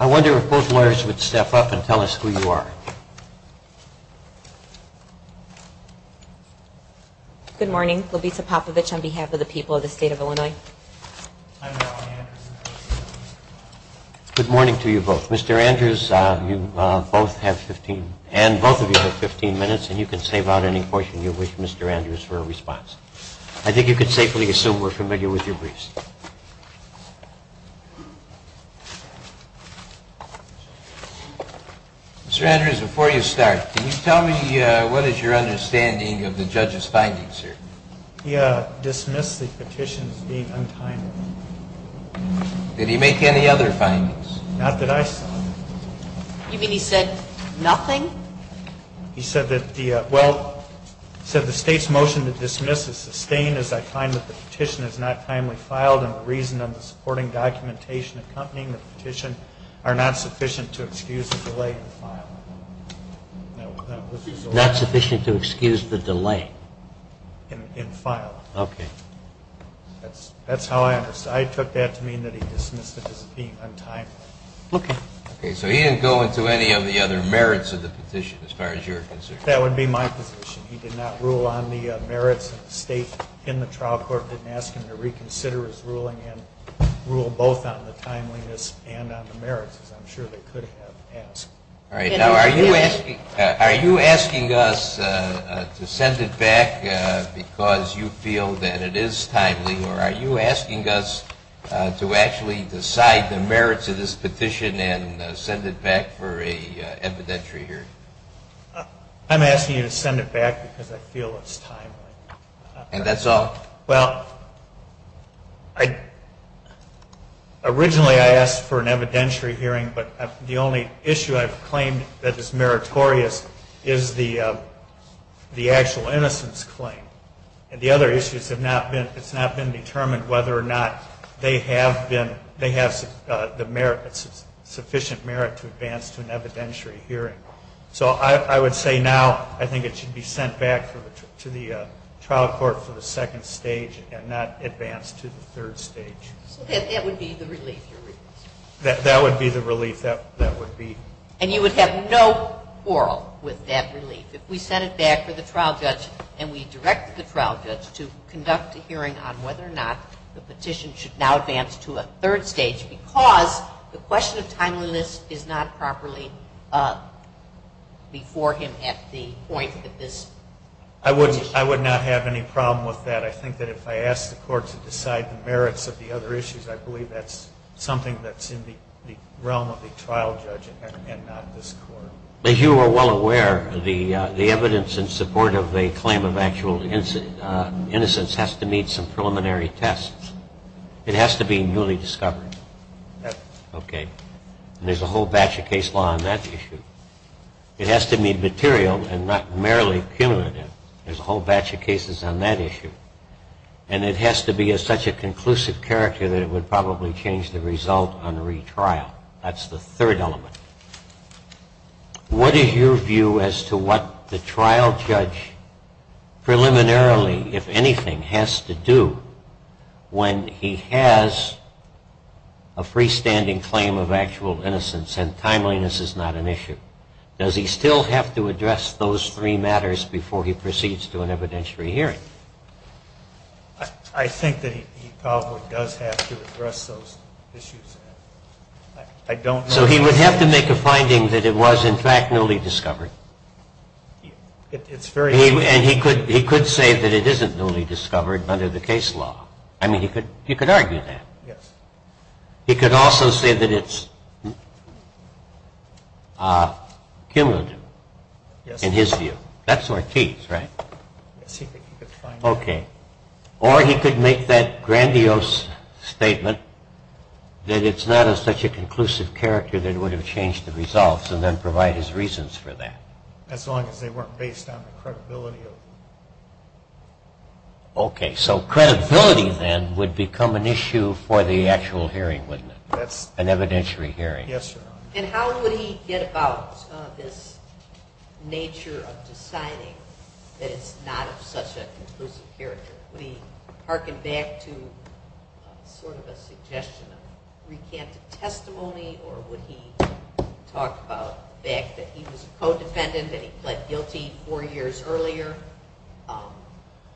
I wonder if both lawyers would step up and tell us who you are. Good morning. Lovisa Popovich on behalf of the people of the state of Illinois. Good morning to you both. Mr. Andrews, you both have 15, and both of you have 15 minutes, and you can save out any portion you wish Mr. Andrews for a response. I think you can safely assume we're familiar with your briefs. Mr. Andrews, before you start, can you tell me what is your understanding of the judge's findings here? He dismissed the petition as being untimely. Did he make any other findings? Not that I saw. You mean he said nothing? He said the state's motion to dismiss is sustained as I find that the petition is not timely filed, and the reason and the supporting documentation accompanying the petition are not sufficient to excuse the delay in filing. Not sufficient to excuse the delay? In filing. Okay. That's how I understand. I took that to mean that he dismissed it as being untimely. Okay. So he didn't go into any of the other merits of the petition as far as you're concerned? That would be my position. He did not rule on the merits, and the state in the trial court didn't ask him to reconsider his ruling and rule both on the timeliness and on the merits, as I'm sure they could have asked. All right. Now, are you asking us to send it back because you feel that it is timely, or are you asking us to actually decide the merits of this petition and send it back for an evidentiary hearing? I'm asking you to send it back because I feel it's timely. And that's all? Well, originally I asked for an evidentiary hearing, but the only issue I've claimed that is meritorious is the actual innocence claim. And the other issues have not been, it's not been determined whether or not they have been, they have the merit, sufficient merit to advance to an evidentiary hearing. So I would say now I think it should be sent back to the trial court for the second stage and not advanced to the third stage. So that would be the relief you're requesting? That would be the relief. That would be. And you would have no quarrel with that relief? If we send it back to the trial judge and we direct the trial judge to conduct a hearing on whether or not the petition should now advance to a third stage because the question of timeliness is not properly before him at the point that this petition. I would not have any problem with that. I think that if I ask the court to decide the merits of the other issues, I believe that's something that's in the realm of the trial judge and not this court. As you are well aware, the evidence in support of a claim of actual innocence has to meet some preliminary tests. It has to be newly discovered. Yes. OK. There's a whole batch of case law on that issue. It has to be material and not merely cumulative. There's a whole batch of cases on that issue. And it has to be of such a conclusive character that it would probably change the result on the retrial. That's the third element. What is your view as to what the trial judge preliminarily, if anything, has to do when he has a freestanding claim of actual innocence and timeliness is not an issue? Does he still have to address those three matters before he proceeds to an evidentiary hearing? I think that he probably does have to address those issues. I don't know. So he would have to make a finding that it was, in fact, newly discovered? It's very easy. And he could say that it isn't newly discovered under the case law. I mean, he could argue that. Yes. He could also say that it's cumulative in his view. That's Ortiz, right? Yes. He could find that. OK. Or he could make that grandiose statement that it's not of such a conclusive character that it would have changed the results and then provide his reasons for that. As long as they weren't based on the credibility of the jury. OK. So credibility, then, would become an issue for the actual hearing, wouldn't it? That's an evidentiary hearing. Yes, Your Honor. And how would he get about this nature of deciding that it's not of such a conclusive character? Would he hearken back to sort of a suggestion of recanted testimony? Or would he talk about the fact that he was a co-defendant, that he pled guilty four years earlier?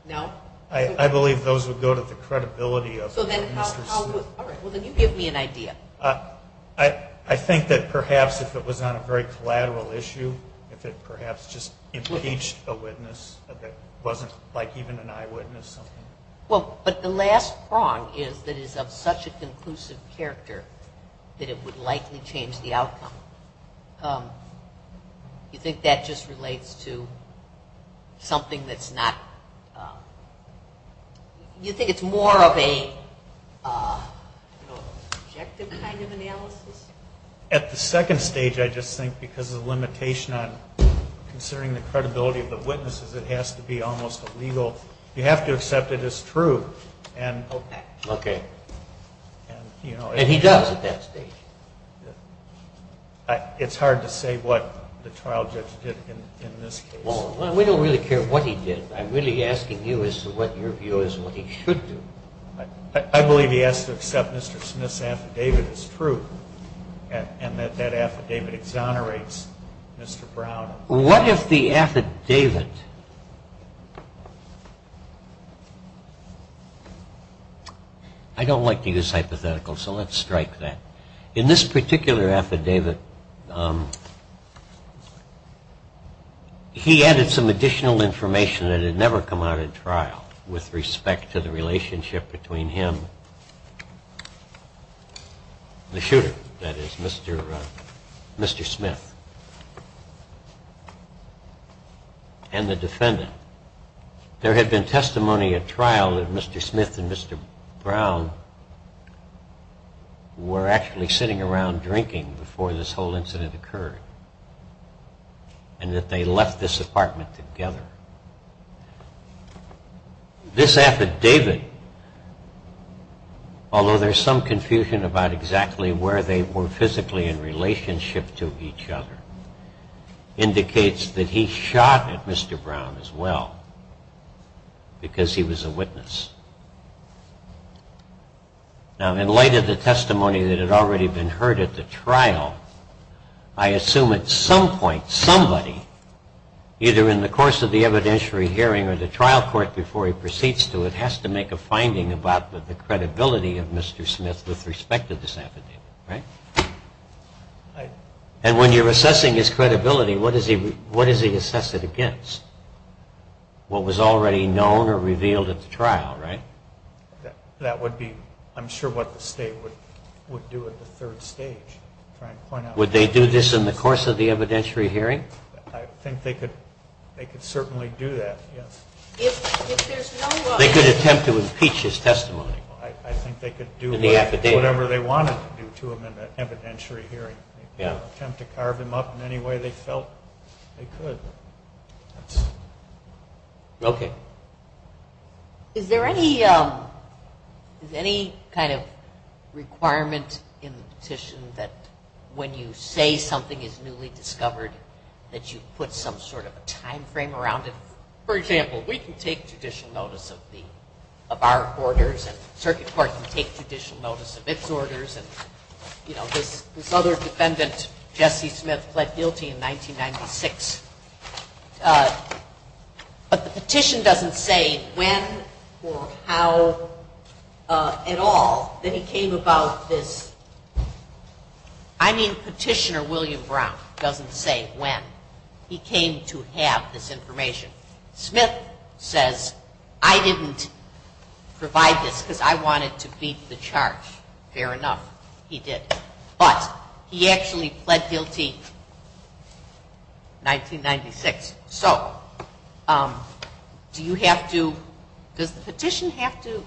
No? I believe those would go to the credibility of Mr. Smith. All right. Well, then you give me an idea. I think that perhaps if it was on a very collateral issue, if it perhaps just impeached a witness that wasn't like even an eyewitness or something. Well, but the last prong is that it's of such a conclusive character that it would likely change the outcome. You think that just relates to something that's not... You think it's more of a subjective kind of analysis? At the second stage, I just think because of the limitation on considering the credibility of the witnesses, it has to be almost illegal. You have to accept it as true. Okay. And he does at that stage. It's hard to say what the trial judge did in this case. Well, we don't really care what he did. I'm really asking you as to what your view is of what he should do. I believe he has to accept Mr. Smith's affidavit as true and that that affidavit exonerates Mr. Brown. What if the affidavit... I don't like to use hypotheticals, so let's strike that. In this particular affidavit, he added some additional information that had never come out at trial with respect to the relationship between him, the shooter, that is, Mr. Smith, and the defendant. There had been testimony at trial that Mr. Smith and Mr. Brown were actually sitting around drinking before this whole incident occurred and that they left this apartment together. This affidavit, although there's some confusion about exactly where they were physically in because he was a witness. Now, in light of the testimony that had already been heard at the trial, I assume at some point somebody, either in the course of the evidentiary hearing or the trial court before he proceeds to it, has to make a finding about the credibility of Mr. Smith with respect to this affidavit, right? And when you're assessing his credibility, what does he assess it against? What was already known or revealed at the trial, right? Would they do this in the course of the evidentiary hearing? They could attempt to impeach his testimony in the affidavit. They could attempt to carve him up in any way they felt they could. Okay. Is there any kind of requirement in the petition that when you say something is newly discovered that you put some sort of a time frame around it? For example, we can take judicial notice of our orders and the circuit court can take this other defendant, Jesse Smith, pled guilty in 1996. But the petition doesn't say when or how at all that he came about this. I mean, Petitioner William Brown doesn't say when he came to have this information. Smith says, I didn't provide this because I wanted to beat the charge. Fair enough. He did. But he actually pled guilty 1996. So do you have to, does the petition have to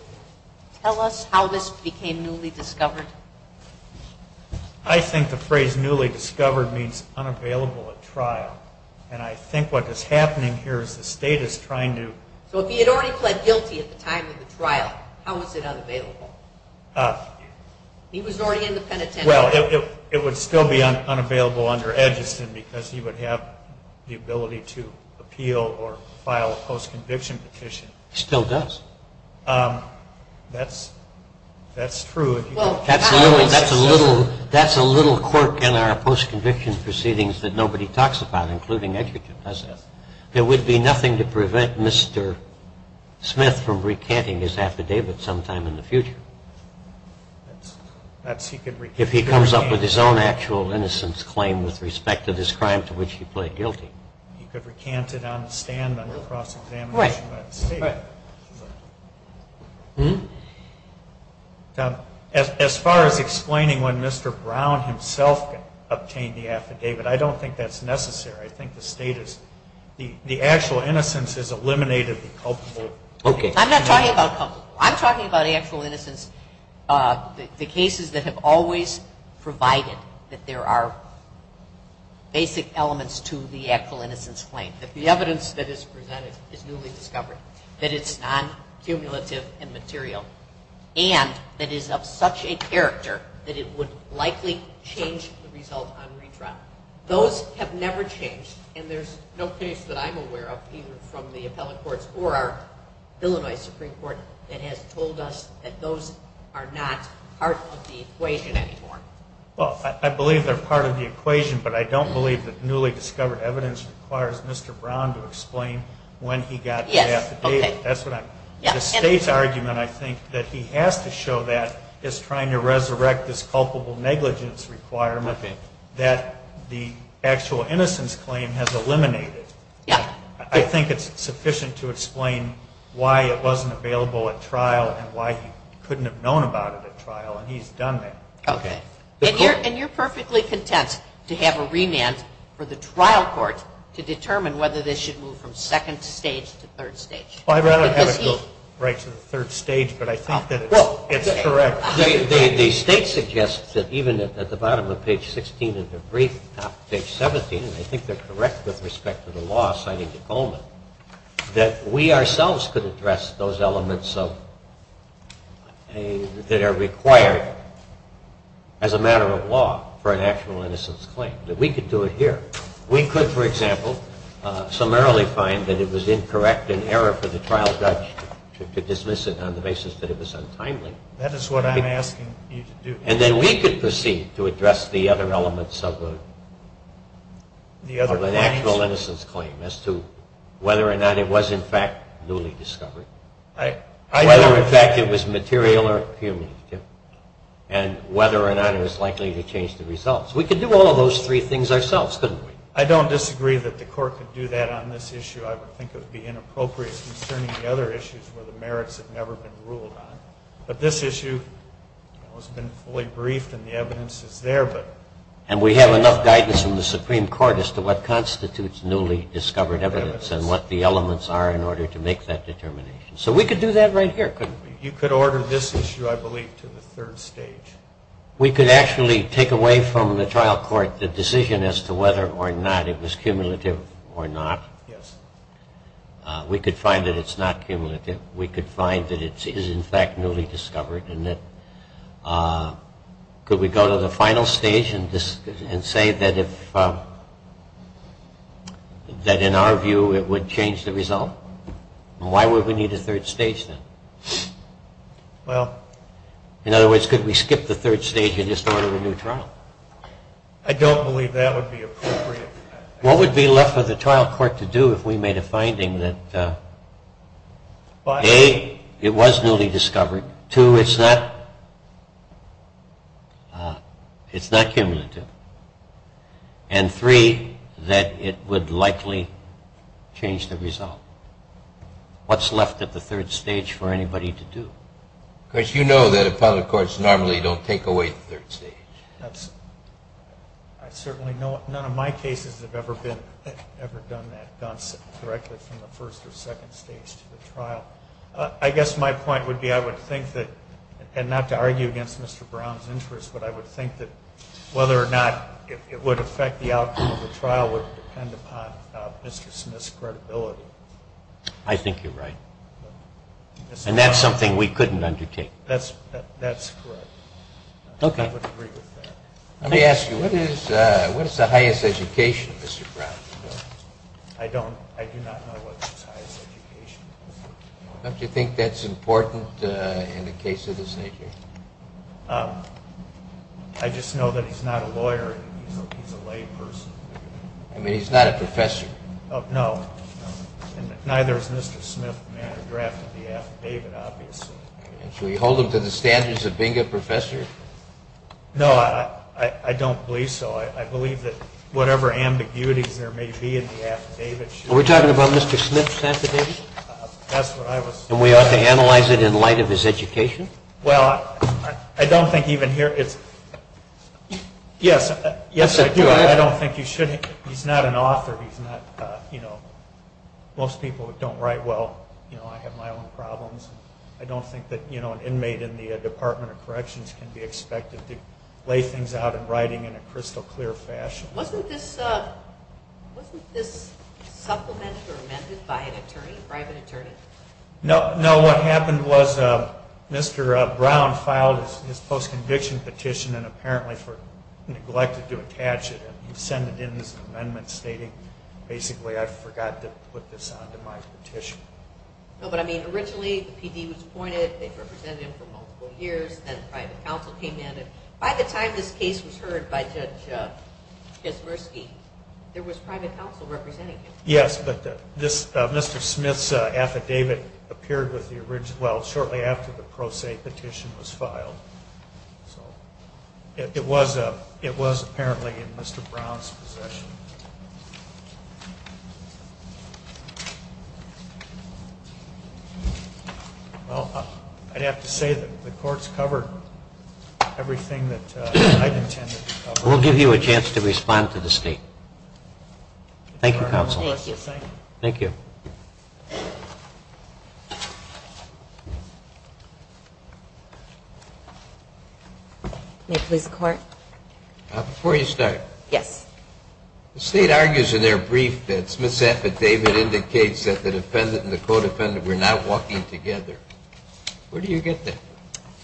tell us how this became newly discovered? I think the phrase newly discovered means unavailable at trial. And I think what is happening here is the state is trying to... So if he had already pled guilty at the time of the trial, how was it unavailable? He was already in the penitentiary. Well, it would still be unavailable under Edgerton because he would have the ability to appeal or file a post-conviction petition. Still does. That's true. Absolutely. That's a little quirk in our post-conviction proceedings that nobody talks about, including Edgerton, does it? There would be nothing to prevent Mr. Smith from recanting his affidavit sometime in the future. If he comes up with his own actual innocence claim with respect to this crime to which he pled guilty. He could recant it on the stand under cross-examination by the state. As far as explaining when Mr. Brown himself obtained the affidavit, I don't think that's necessary. I think the state is... The actual innocence is eliminated in culpable... I'm not talking about culpable. I'm talking about actual innocence, the cases that have always provided that there are basic elements to the actual innocence claim, that the evidence that is presented is newly discovered, that it's non-cumulative and material, and that is of such a character that it would likely change the result on redraft. Those have never changed, and there's no case that I'm aware of, either from the appellate courts or our Illinois Supreme Court, that has told us that those are not part of the equation anymore. Well, I believe they're part of the equation, but I don't believe that newly discovered evidence requires Mr. Brown to explain when he got the affidavit. That's what I'm... The state's argument, I think, that he has to show that is trying to resurrect this culpable negligence requirement that the actual innocence claim has eliminated. Yeah. I think it's sufficient to explain why it wasn't available at trial and why he couldn't have known about it at trial, and he's done that. Okay. And you're perfectly content to have a remand for the trial court to determine whether this should move from second stage to third stage. Well, I'd rather have it go right to the third stage, but I think that it's correct. The state suggests that even at the bottom of page 16 and the brief at the top of page 17, and I think they're correct with respect to the law citing the Coleman, that we ourselves could address those elements that are required as a matter of law for an actual innocence claim, that we could do it here. We could, for example, summarily find that it was incorrect and error for the trial judge to dismiss it on the basis that it was untimely. That is what I'm asking you to do. And then we could proceed to address the other elements of an actual innocence claim as to whether or not it was, in fact, newly discovered, whether, in fact, it was material or cumulative, and whether or not it was likely to change the results. We could do all of those three things ourselves, couldn't we? I don't disagree that the court could do that on this issue. I would think it would be inappropriate concerning the other issues where the merits have never been ruled on. But this issue has been fully briefed and the evidence is there. And we have enough guidance from the Supreme Court as to what constitutes newly discovered evidence and what the elements are in order to make that determination. So we could do that right here, couldn't we? You could order this issue, I believe, to the third stage. We could actually take away from the trial court the decision as to whether or not it was cumulative or not. Yes. We could find that it's not cumulative. We could find that it is, in fact, newly discovered. Could we go to the final stage and say that, in our view, it would change the result? Why would we need a third stage then? Well... In other words, could we skip the third stage and just order a new trial? I don't believe that would be appropriate. What would be left for the trial court to do if we made a finding that, A, it was newly discovered, two, it's not cumulative, and three, that it would likely change the result? What's left at the third stage for anybody to do? Because you know that appellate courts normally don't take away the third stage. I certainly know none of my cases have ever done that, gone directly from the first or second stage to the trial. I guess my point would be, I would think that, and not to argue against Mr. Brown's interest, but I would think that whether or not it would affect the outcome of the trial would depend upon Mr. Smith's credibility. I think you're right. And that's something we couldn't undertake. That's correct. I would agree with that. Let me ask you, what is the highest education of Mr. Brown? I do not know what his highest education is. Don't you think that's important in a case of this nature? I just know that he's not a lawyer, he's a layperson. I mean, he's not a professor. No, and neither is Mr. Smith, the man who drafted the affidavit, obviously. Should we hold him to the standards of being a professor? No, I don't believe so. I believe that whatever ambiguities there may be in the affidavit should be... Are we talking about Mr. Smith's affidavit? That's what I was... And we ought to analyze it in light of his education? Well, I don't think even here it's... Yes, I do. I don't think you should. He's not an author. He's not, you know, most people who don't write well, you know, I have my own problems. I don't think that, you know, an inmate in the Department of Corrections can be expected to lay things out in writing in a crystal clear fashion. Wasn't this supplemented or amended by an attorney, a private attorney? No, what happened was Mr. Brown filed his post-conviction petition and apparently neglected to attach it. He sent it in as an amendment stating, basically, I forgot to put this onto my petition. But, I mean, originally the PD was appointed, they represented him for multiple years, then the private counsel came in, and by the time this case was heard by Judge Kaczmarski, there was private counsel representing him. Yes, but Mr. Smith's affidavit appeared shortly after the pro se petition was filed. So it was apparently in Mr. Brown's possession. Well, I'd have to say that the courts covered everything that I'd intended to cover. We'll give you a chance to respond to the State. Thank you, Counsel. Thank you. Thank you. May it please the Court? Before you start. Yes. The State argues in their brief that Smith's affidavit indicates that the defendant and the co-defendant were not walking together. Where do you get that?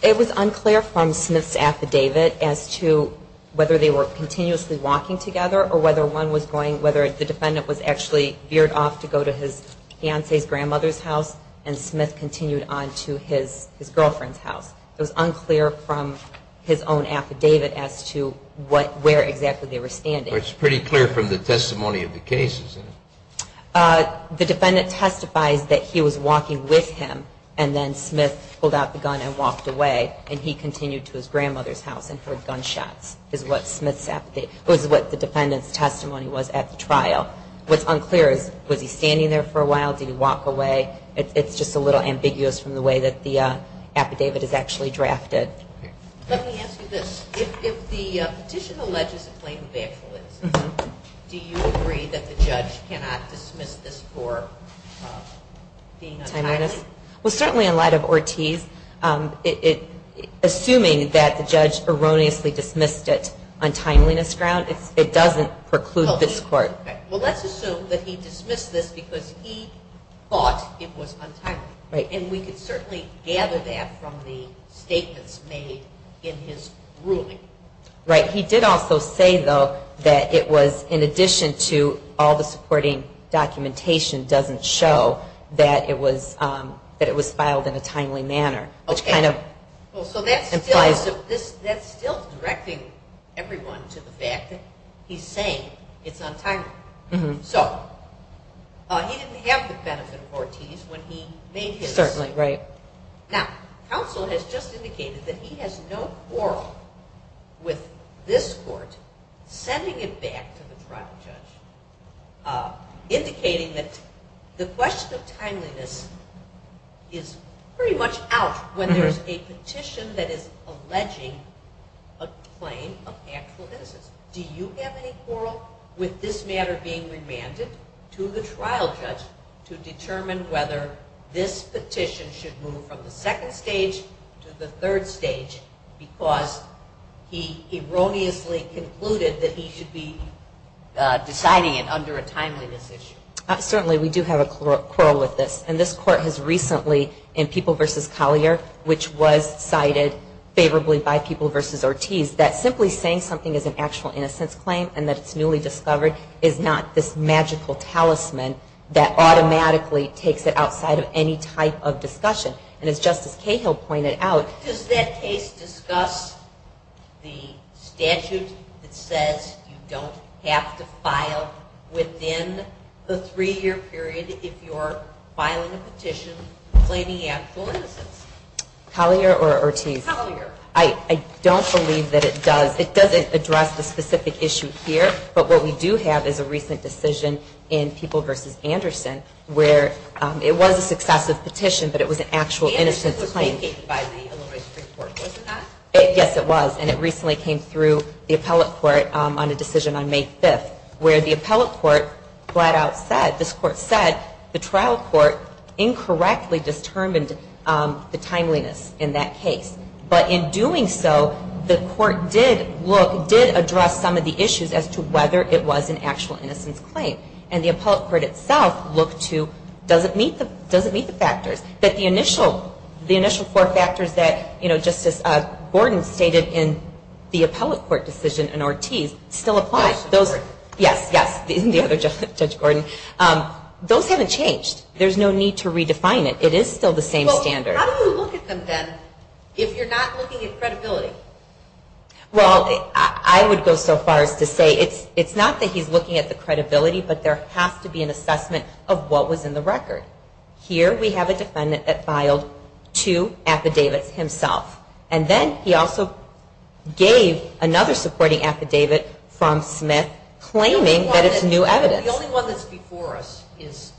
It was unclear from Smith's affidavit as to whether they were continuously walking together or whether the defendant was actually veered off to go to his fiancee's grandmother's house and Smith continued on to his girlfriend's house. It was unclear from his own affidavit as to where exactly they were standing. Well, it's pretty clear from the testimony of the case, isn't it? The defendant testifies that he was walking with him and then Smith pulled out the gun and walked away and he continued to his grandmother's house and heard gunshots. This is what the defendant's testimony was at the trial. What's unclear is was he standing there for a while? Did he walk away? It's just a little ambiguous from the way that the affidavit is actually drafted. Let me ask you this. If the petition alleges a claim of actual innocence, do you agree that the judge cannot dismiss this for being untimely? Well, certainly in light of Ortiz, assuming that the judge erroneously dismissed it on timeliness grounds, it doesn't preclude this court. Well, let's assume that he dismissed this because he thought it was untimely. And we could certainly gather that from the statements made in his ruling. Right. He did also say, though, that it was in addition to all the supporting documentation doesn't show that it was filed in a timely manner. Okay. So that's still directing everyone to the fact that he's saying it's untimely. So he didn't have the benefit of Ortiz when he made his statement. Now, counsel has just indicated that he has no quarrel with this court sending it back to the trial judge, indicating that the question of timeliness is pretty much out when there's a petition that is alleging a claim of actual innocence. Do you have any quarrel with this matter being remanded to the trial judge to determine whether this petition should move from the second stage to the third stage because he erroneously concluded that he should be deciding it under a timeliness issue? Certainly we do have a quarrel with this. And this court has recently in People v. Collier, which was cited favorably by People v. Ortiz, that simply saying something is an actual innocence claim and that it's newly discovered is not this magical talisman that automatically takes it outside of any type of discussion. And as Justice Cahill pointed out, does that case discuss the statute that says you don't have to file within the three-year period if you're filing a petition claiming actual innocence? Collier or Ortiz? Collier. I don't believe that it does. It doesn't address the specific issue here. But what we do have is a recent decision in People v. Anderson where it was a successive petition, but it was an actual innocence claim. Anderson was vacated by the Illinois Supreme Court, was it not? Yes, it was. And it recently came through the appellate court on a decision on May 5th where the appellate court flat out said, this court said, the trial court incorrectly determined the timeliness in that case. But in doing so, the court did address some of the issues as to whether it was an actual innocence claim. And the appellate court itself looked to, does it meet the factors? That the initial four factors that Justice Gordon stated in the appellate court decision and Ortiz still apply. Yes, yes, the other judge, Judge Gordon. Those haven't changed. There's no need to redefine it. It is still the same standard. How do you look at them then if you're not looking at credibility? Well, I would go so far as to say it's not that he's looking at the credibility, but there has to be an assessment of what was in the record. Here we have a defendant that filed two affidavits himself. And then he also gave another supporting affidavit from Smith claiming that it's new evidence. The only one that's before us is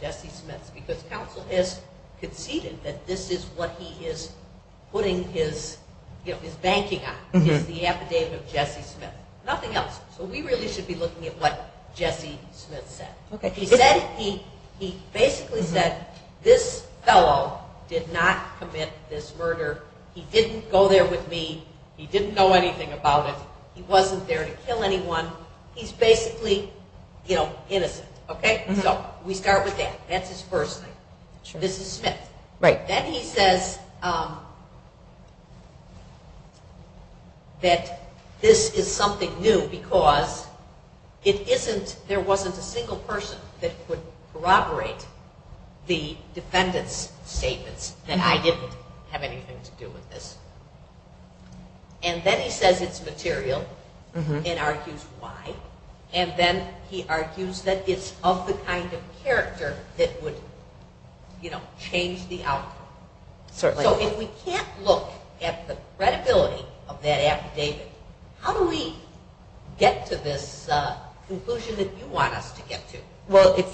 Jesse Smith's because counsel has conceded that this is what he is putting his banking on. It's the affidavit of Jesse Smith. Nothing else. So we really should be looking at what Jesse Smith said. He basically said this fellow did not commit this murder. He didn't go there with me. He didn't know anything about it. He wasn't there to kill anyone. He's basically innocent. So we start with that. That's his first thing. This is Smith. Then he says that this is something new because there wasn't a single person that would corroborate the defendant's statements and I didn't have anything to do with this. And then he says it's material and argues why. And then he argues that it's of the kind of character that would change the outcome. So if we can't look at the credibility of that affidavit, how do we get to this conclusion that you want us to get to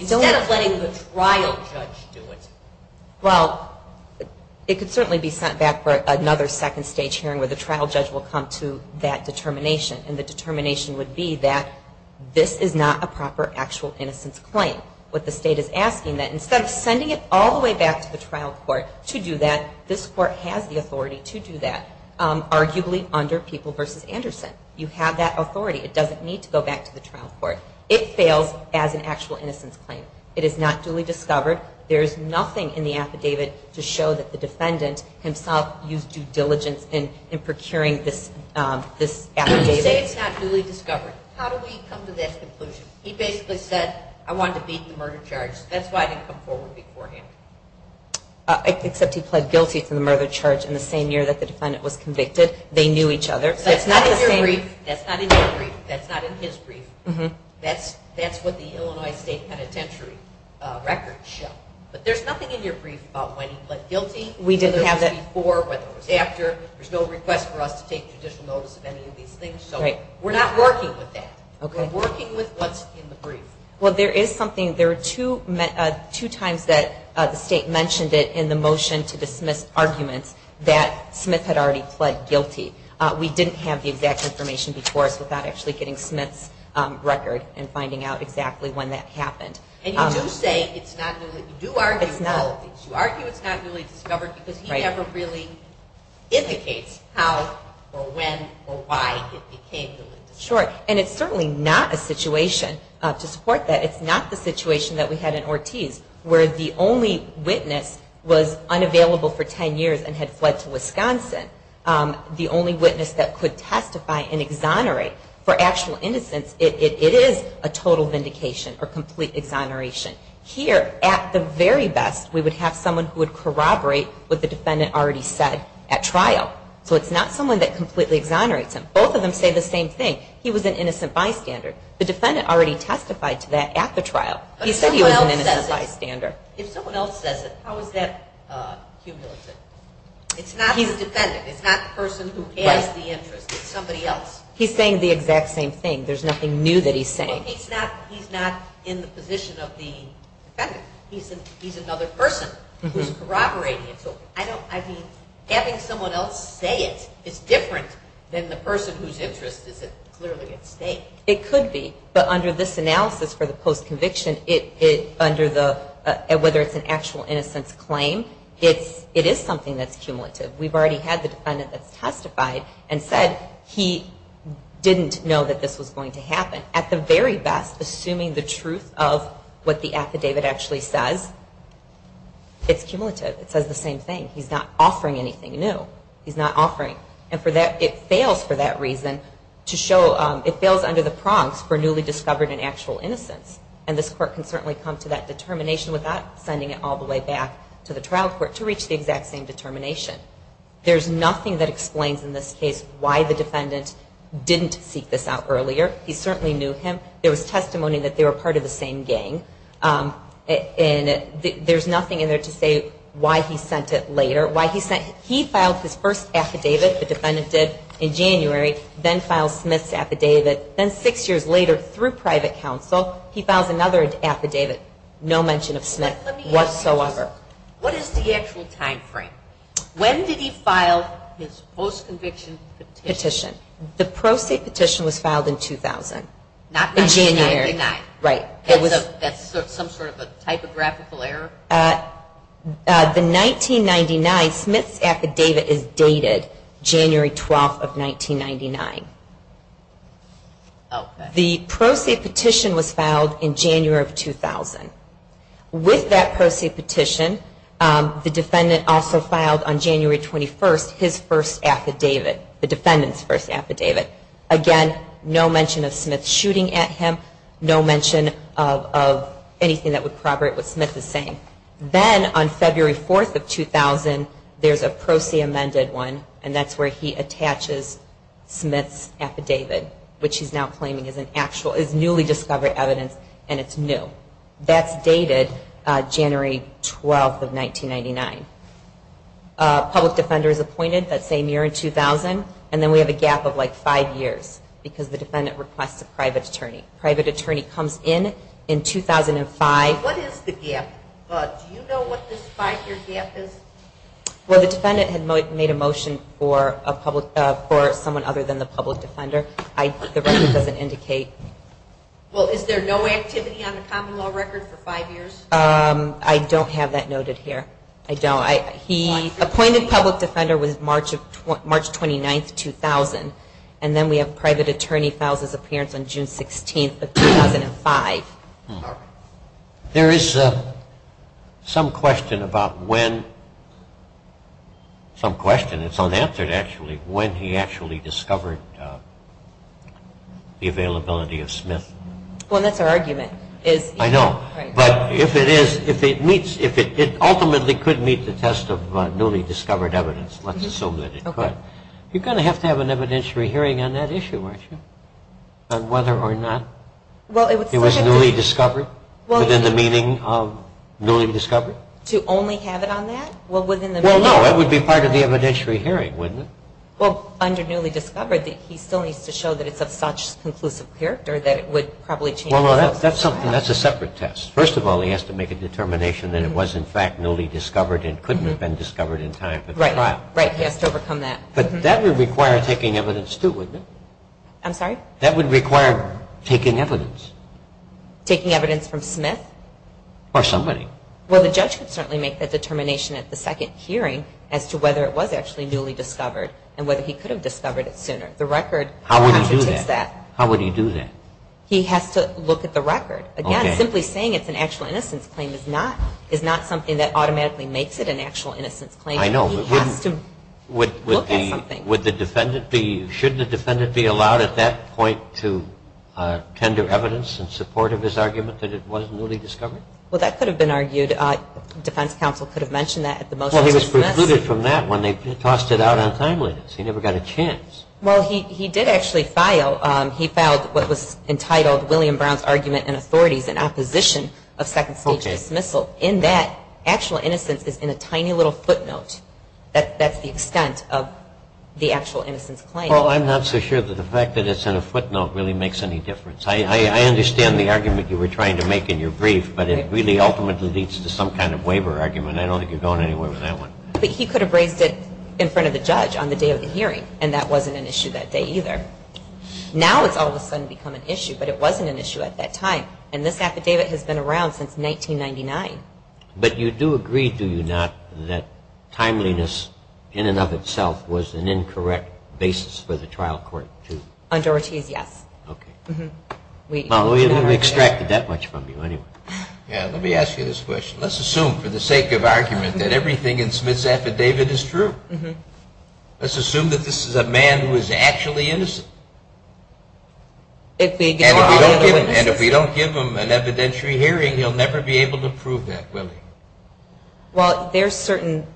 instead of letting the trial judge do it? Well, it could certainly be sent back for another second stage hearing where the trial judge will come to that determination. And the determination would be that this is not a proper actual innocence claim. What the state is asking that instead of sending it all the way back to the trial court to do that, this court has the authority to do that, arguably under People v. Anderson. You have that authority. It doesn't need to go back to the trial court. It fails as an actual innocence claim. It is not duly discovered. There is nothing in the affidavit to show that the defendant himself used due diligence in procuring this affidavit. When you say it's not duly discovered, how do we come to that conclusion? He basically said, I wanted to beat the murder charge. That's why I didn't come forward beforehand. Except he pled guilty to the murder charge in the same year that the defendant was convicted. They knew each other. That's not in your brief. That's not in your brief. That's not in his brief. That's what the Illinois State Penitentiary records show. But there's nothing in your brief about when he pled guilty, whether it was before, whether it was after. There's no request for us to take judicial notice of any of these things. So we're not working with that. We're working with what's in the brief. Well, there is something. There are two times that the state mentioned it in the motion to dismiss arguments that Smith had already pled guilty. We didn't have the exact information before us without actually getting Smith's record and finding out exactly when that happened. And you do say it's not duly discovered. You argue it's not duly discovered because he never really indicates how or when or why it became duly discovered. Sure. And it's certainly not a situation to support that. It's not the situation that we had in Ortiz where the only witness was unavailable for ten years and had fled to Wisconsin, the only witness that could testify and exonerate for actual innocence. It is a total vindication or complete exoneration. Here, at the very best, we would have someone who would corroborate what the defendant already said at trial. So it's not someone that completely exonerates him. Both of them say the same thing. He was an innocent bystander. The defendant already testified to that at the trial. He said he was an innocent bystander. If someone else says it, how is that cumulative? It's not the defendant. It's not the person who has the interest. It's somebody else. He's saying the exact same thing. There's nothing new that he's saying. Well, he's not in the position of the defendant. He's another person who's corroborating it. I mean, having someone else say it is different than the person whose interest is clearly at stake. It could be, but under this analysis for the post-conviction, whether it's an actual innocence claim, it is something that's cumulative. We've already had the defendant that's testified and said he didn't know that this was going to happen. At the very best, assuming the truth of what the affidavit actually says, it's cumulative. It says the same thing. He's not offering anything new. He's not offering. And it fails for that reason to show it fails under the prongs for newly discovered and actual innocence. And this court can certainly come to that determination without sending it all the way back to the trial court to reach the exact same determination. There's nothing that explains in this case why the defendant didn't seek this out earlier. He certainly knew him. There was testimony that they were part of the same gang. And there's nothing in there to say why he sent it later. He filed his first affidavit, the defendant did, in January, then filed Smith's affidavit. Then six years later, through private counsel, he files another affidavit, no mention of Smith whatsoever. What is the actual time frame? When did he file his post-conviction petition? The post-conviction petition was filed in 2000. Not 1999. Right. That's some sort of a typographical error? The 1999 Smith's affidavit is dated January 12th of 1999. Okay. The post-conviction petition was filed in January of 2000. With that post-conviction petition, the defendant also filed on January 21st his first affidavit, the defendant's first affidavit. Again, no mention of Smith shooting at him, no mention of anything that would corroborate what Smith is saying. Then on February 4th of 2000, there's a proceed amended one, and that's where he attaches Smith's affidavit, which he's now claiming is newly discovered evidence and it's new. That's dated January 12th of 1999. A public defender is appointed that same year in 2000, and then we have a gap of, like, five years because the defendant requests a private attorney. A private attorney comes in in 2005. What is the gap? Do you know what this five-year gap is? Well, the defendant had made a motion for someone other than the public defender. The record doesn't indicate. Well, is there no activity on the common law record for five years? I don't have that noted here. I don't. He appointed public defender was March 29th, 2000, and then we have private attorney files his appearance on June 16th of 2005. There is some question about when, some question, it's unanswered actually, when he actually discovered the availability of Smith. Well, that's our argument. I know. But if it is, if it ultimately could meet the test of newly discovered evidence, let's assume that it could, you're going to have to have an evidentiary hearing on that issue, aren't you, on whether or not it was newly discovered within the meaning of newly discovered? To only have it on that? Well, no, that would be part of the evidentiary hearing, wouldn't it? Well, under newly discovered, he still needs to show that it's of such conclusive character that it would probably change. Well, no, that's a separate test. First of all, he has to make a determination that it was, in fact, newly discovered and couldn't have been discovered in time for the trial. Right, he has to overcome that. But that would require taking evidence too, wouldn't it? I'm sorry? That would require taking evidence. Taking evidence from Smith? Or somebody. Well, the judge could certainly make that determination at the second hearing as to whether it was actually newly discovered and whether he could have discovered it sooner. The record contradicts that. How would he do that? He has to look at the record. Again, simply saying it's an actual innocence claim is not something that automatically makes it an actual innocence claim. I know. He has to look at something. Should the defendant be allowed at that point to tender evidence in support of his argument that it was newly discovered? Well, that could have been argued. Defense counsel could have mentioned that at the motion to dismiss. Well, he was precluded from that when they tossed it out on timeliness. He never got a chance. Well, he did actually file. He filed what was entitled William Brown's Argument and Authorities in Opposition of Second Stage Dismissal. In that, actual innocence is in a tiny little footnote. That's the extent of the actual innocence claim. Well, I'm not so sure that the fact that it's in a footnote really makes any difference. I understand the argument you were trying to make in your brief, but it really ultimately leads to some kind of waiver argument. I don't think you're going anywhere with that one. But he could have raised it in front of the judge on the day of the hearing, and that wasn't an issue that day either. Now it's all of a sudden become an issue, but it wasn't an issue at that time. And this affidavit has been around since 1999. But you do agree, do you not, that timeliness in and of itself was an incorrect basis for the trial court to? Under Ortiz, yes. Okay. Well, we haven't extracted that much from you anyway. Yeah, let me ask you this question. Let's assume for the sake of argument that everything in Smith's affidavit is true. Let's assume that this is a man who is actually innocent. And if we don't give him an evidentiary hearing, he'll never be able to prove that, will he? Well, there are certain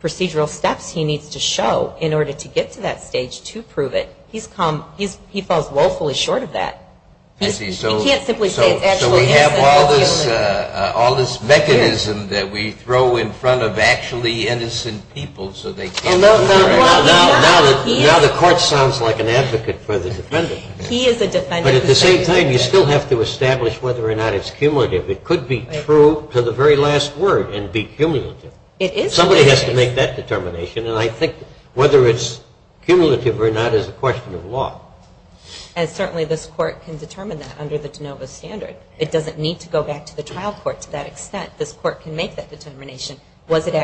procedural steps he needs to show in order to get to that stage to prove it. He falls woefully short of that. So we have all this mechanism that we throw in front of actually innocent people so they can't prove it. Now the court sounds like an advocate for the defendant. He is a defendant. But at the same time, you still have to establish whether or not it's cumulative. It could be true to the very last word and be cumulative. Somebody has to make that determination, and I think whether it's cumulative or not is a question of law. And certainly this court can determine that under the de novo standard. It doesn't need to go back to the trial court to that extent. This court can make that determination. Was it an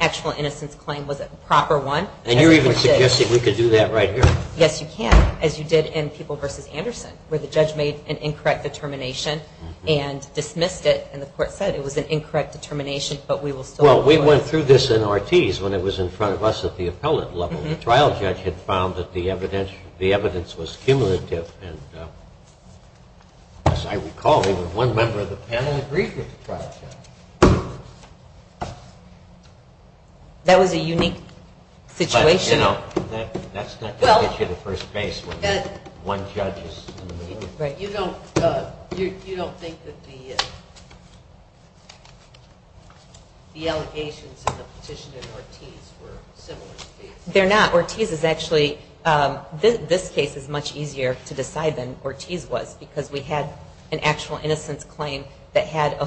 actual innocence claim? Was it a proper one? And you're even suggesting we could do that right here? Yes, you can, as you did in People v. Anderson, where the judge made an incorrect determination and dismissed it. And the court said it was an incorrect determination, but we will still do it. Well, we went through this in Ortiz when it was in front of us at the appellate level. And the trial judge had found that the evidence was cumulative. And as I recall, even one member of the panel agreed with the trial judge. That was a unique situation? You know, that's not going to get you to first base when one judge is in the middle. You don't think that the allegations in the petition in Ortiz were similar to these? They're not. Ortiz is actually, this case is much easier to decide than Ortiz was, because we had an actual innocence claim that had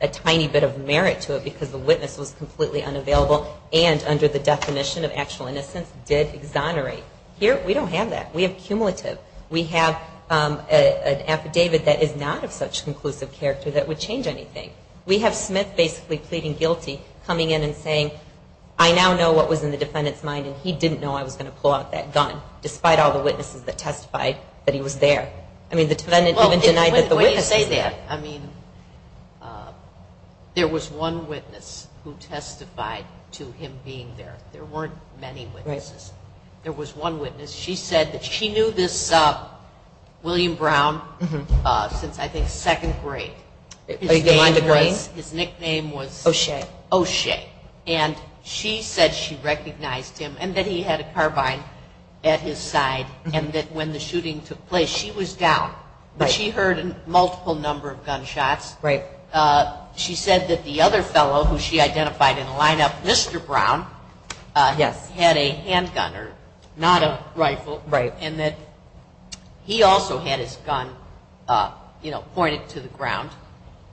a tiny bit of merit to it because the witness was completely unavailable and under the definition of actual innocence did exonerate. Here, we don't have that. We have cumulative. We have an affidavit that is not of such conclusive character that would change anything. We have Smith basically pleading guilty, coming in and saying, I now know what was in the defendant's mind and he didn't know I was going to pull out that gun, despite all the witnesses that testified that he was there. I mean, the defendant even denied that the witness was there. Well, the way you say that, I mean, there was one witness who testified to him being there. There weren't many witnesses. There was one witness. She said that she knew this William Brown since I think second grade. His name was? His nickname was? O'Shea. O'Shea. And she said she recognized him and that he had a carbine at his side and that when the shooting took place, she was down. But she heard a multiple number of gunshots. Right. She said that the other fellow who she identified in the lineup, Mr. Brown, Yes. was a handgunner, not a rifle. Right. And that he also had his gun, you know, pointed to the ground.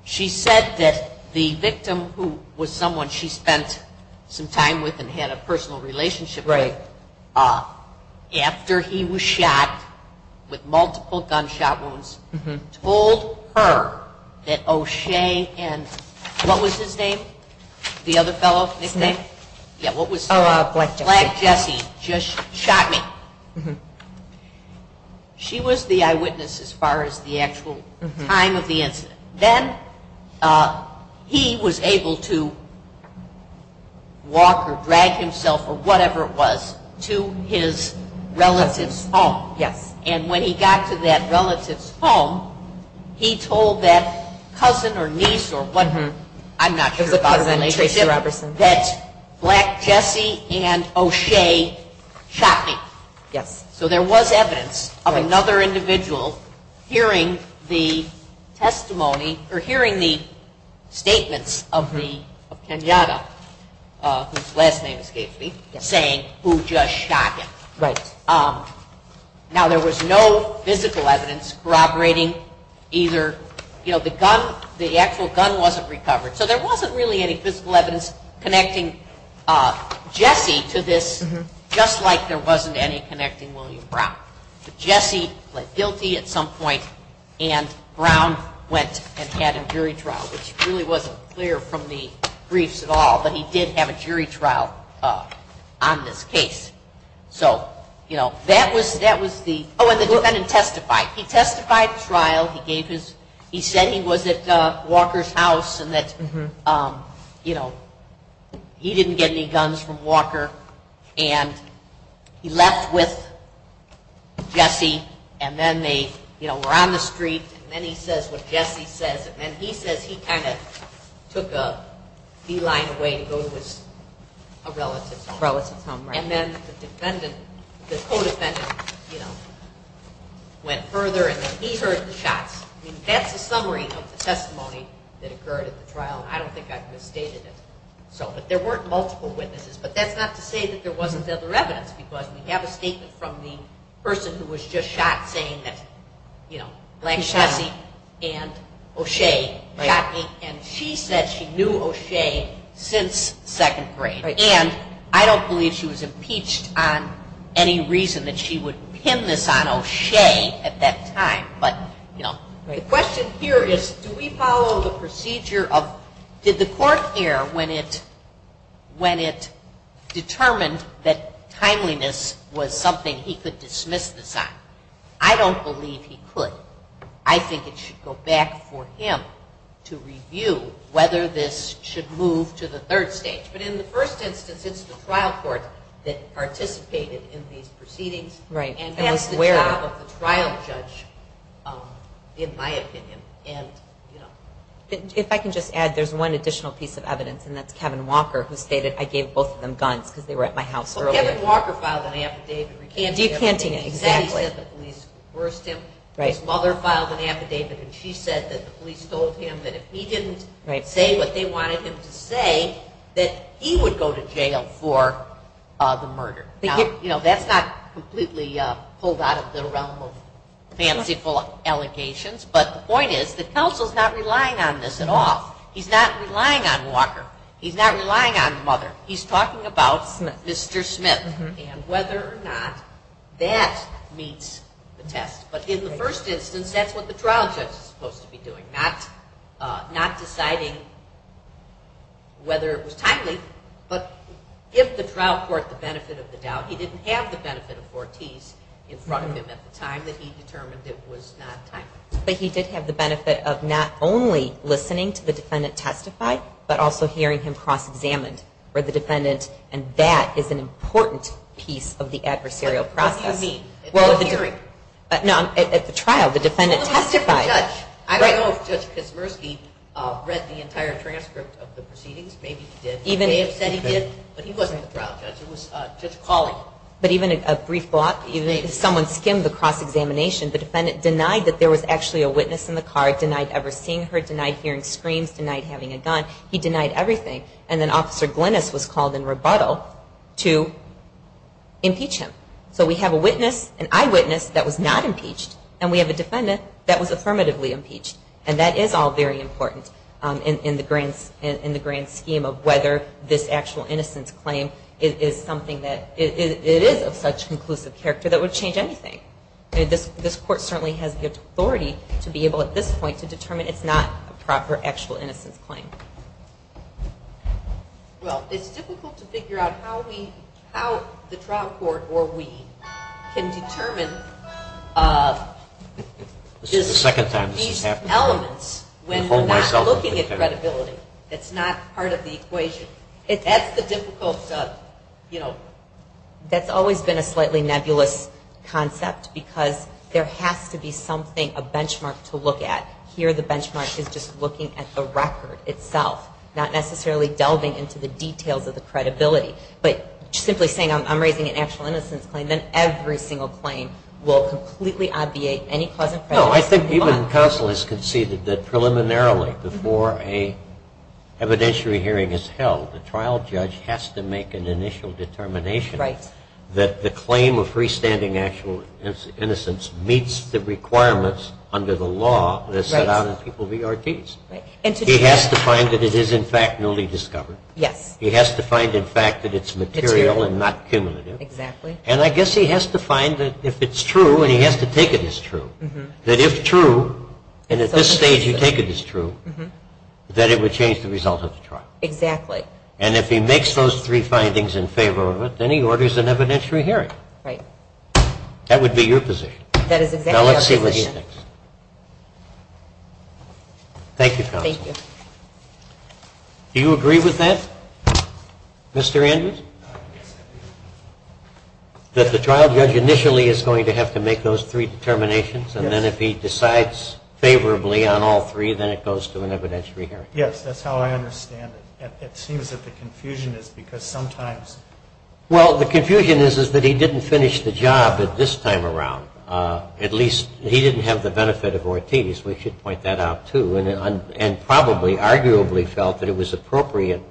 She said that the victim, who was someone she spent some time with and had a personal relationship with, after he was shot with multiple gunshot wounds, told her that O'Shea and what was his name? The other fellow's nickname? His name? Yeah, what was his name? Black Jesse. Black Jesse just shot me. She was the eyewitness as far as the actual time of the incident. Then he was able to walk or drag himself or whatever it was to his relative's home. Yes. And when he got to that relative's home, he told that cousin or niece or whatever, I'm not sure about the relationship, that Black Jesse and O'Shea shot him. Yes. So there was evidence of another individual hearing the testimony or hearing the statements of Kenyatta, whose last name escapes me, saying who just shot him. Right. Now, there was no physical evidence corroborating either, you know, the actual gun wasn't recovered. So there wasn't really any physical evidence connecting Jesse to this, just like there wasn't any connecting William Brown. But Jesse pled guilty at some point, and Brown went and had a jury trial, which really wasn't clear from the briefs at all, but he did have a jury trial on this case. So, you know, that was the – oh, and the defendant testified. He testified at trial. He gave his – he said he was at Walker's house and that, you know, he didn't get any guns from Walker, and he left with Jesse, and then they, you know, were on the street, and then he says what Jesse says, and then he says he kind of took a beeline away to go to his relative's home. Relative's home, right. And then the defendant – the co-defendant, you know, went further, and then he heard the shots. I mean, that's a summary of the testimony that occurred at the trial, and I don't think I've misstated it. But there weren't multiple witnesses, but that's not to say that there wasn't other evidence, because we have a statement from the person who was just shot saying that, you know, Black Jesse and O'Shea shot me, and she said she knew O'Shea since second grade, and I don't believe she was impeached on any reason that she would pin this on O'Shea at that time. But, you know, the question here is do we follow the procedure of – did the court err when it – when it determined that timeliness was something he could dismiss this on? I don't believe he could. I think it should go back for him to review whether this should move to the third stage. But in the first instance, it's the trial court that participated in these proceedings and has the job of the trial judge, in my opinion, and, you know. If I can just add, there's one additional piece of evidence, and that's Kevin Walker, who stated, I gave both of them guns because they were at my house earlier. Well, Kevin Walker filed an affidavit recanting everything he said. He said the police coerced him. His mother filed an affidavit, and she said that the police told him that if he didn't say what they wanted him to say, that he would go to jail for the murder. Now, you know, that's not completely pulled out of the realm of fanciful allegations, but the point is that counsel's not relying on this at all. He's not relying on Walker. He's not relying on the mother. He's talking about Mr. Smith and whether or not that meets the test. But in the first instance, that's what the trial judge is supposed to be doing, not deciding whether it was timely, but give the trial court the benefit of the doubt. He didn't have the benefit of four Ts in front of him at the time that he determined it was not timely. But he did have the benefit of not only listening to the defendant testify, but also hearing him cross-examined for the defendant, and that is an important piece of the adversarial process. At the trial, the defendant testified. I don't know if Judge Kaczmarski read the entire transcript of the proceedings. Maybe he did. He may have said he did, but he wasn't the trial judge. It was Judge Colley. But even at a brief block, if someone skimmed the cross-examination, the defendant denied that there was actually a witness in the car, denied ever seeing her, denied hearing screams, denied having a gun. He denied everything. And then Officer Glynnis was called in rebuttal to impeach him. So we have a witness, an eyewitness that was not impeached, and we have a defendant that was affirmatively impeached, and that is all very important in the grand scheme of whether this actual innocence claim is something that is of such conclusive character that would change anything. This court certainly has the authority to be able, at this point, to determine it's not a proper actual innocence claim. Well, it's difficult to figure out how we, how the trial court, or we, can determine these elements when we're not looking at credibility. It's not part of the equation. That's the difficult, you know, that's always been a slightly nebulous concept, because there has to be something, a benchmark to look at. Here the benchmark is just looking at the record. It's self, not necessarily delving into the details of the credibility, but simply saying I'm raising an actual innocence claim, then every single claim will completely obviate any cause of prejudice. No, I think even counsel has conceded that preliminarily before a evidentiary hearing is held, the trial judge has to make an initial determination that the claim of freestanding actual innocence meets the requirements under the law that's set out in People v. Ortiz. He has to find that it is, in fact, newly discovered. Yes. He has to find, in fact, that it's material and not cumulative. Exactly. And I guess he has to find that if it's true, and he has to take it as true, that if true, and at this stage you take it as true, that it would change the result of the trial. Exactly. And if he makes those three findings in favor of it, then he orders an evidentiary hearing. Right. That would be your position. That is exactly our position. Now let's see what he thinks. Thank you, counsel. Thank you. Do you agree with that, Mr. Andrews? Yes, I do. That the trial judge initially is going to have to make those three determinations, and then if he decides favorably on all three, then it goes to an evidentiary hearing. Yes, that's how I understand it. It seems that the confusion is because sometimes. Well, the confusion is that he didn't finish the job at this time around. At least he didn't have the benefit of Ortiz, we should point that out too, and probably arguably felt that it was appropriate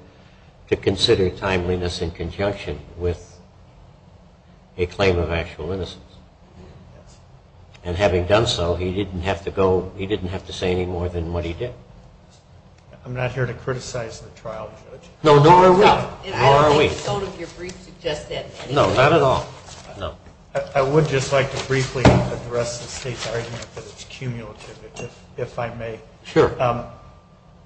to consider timeliness in conjunction with a claim of actual innocence. And having done so, he didn't have to go, he didn't have to say any more than what he did. I'm not here to criticize the trial judge. No, nor are we. I don't think some of your briefs suggest that. No, not at all. I would just like to briefly address the state's argument that it's cumulative, if I may. Sure.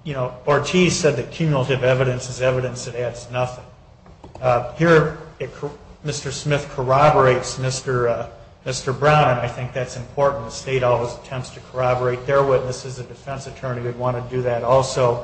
You know, Ortiz said that cumulative evidence is evidence that adds nothing. Here, Mr. Smith corroborates Mr. Brown, and I think that's important. The state always attempts to corroborate their witnesses. A defense attorney would want to do that also.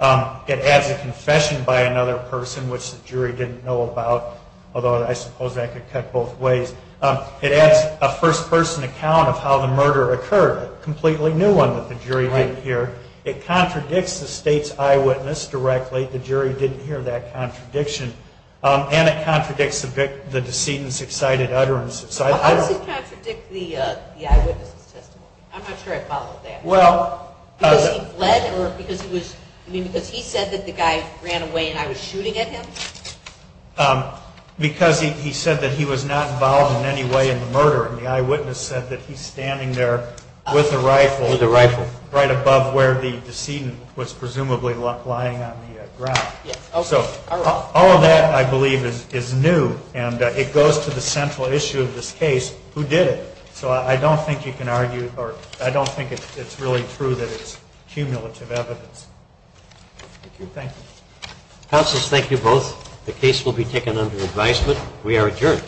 It adds a confession by another person, which the jury didn't know about, although I suppose that could cut both ways. It adds a first-person account of how the murder occurred, a completely new one that the jury didn't hear. It contradicts the state's eyewitness directly. The jury didn't hear that contradiction. And it contradicts the decedent's excited utterances. Why does it contradict the eyewitness's testimony? I'm not sure I followed that. Because he fled or because he said that the guy ran away and I was shooting at him? Because he said that he was not involved in any way in the murder, and the eyewitness said that he's standing there with a rifle right above where the decedent was presumably lying on the ground. So all of that, I believe, is new, and it goes to the central issue of this case, who did it? So I don't think you can argue or I don't think it's really true that it's cumulative evidence. Thank you. Counsel, thank you both. The case will be taken under advisement. We are adjourned.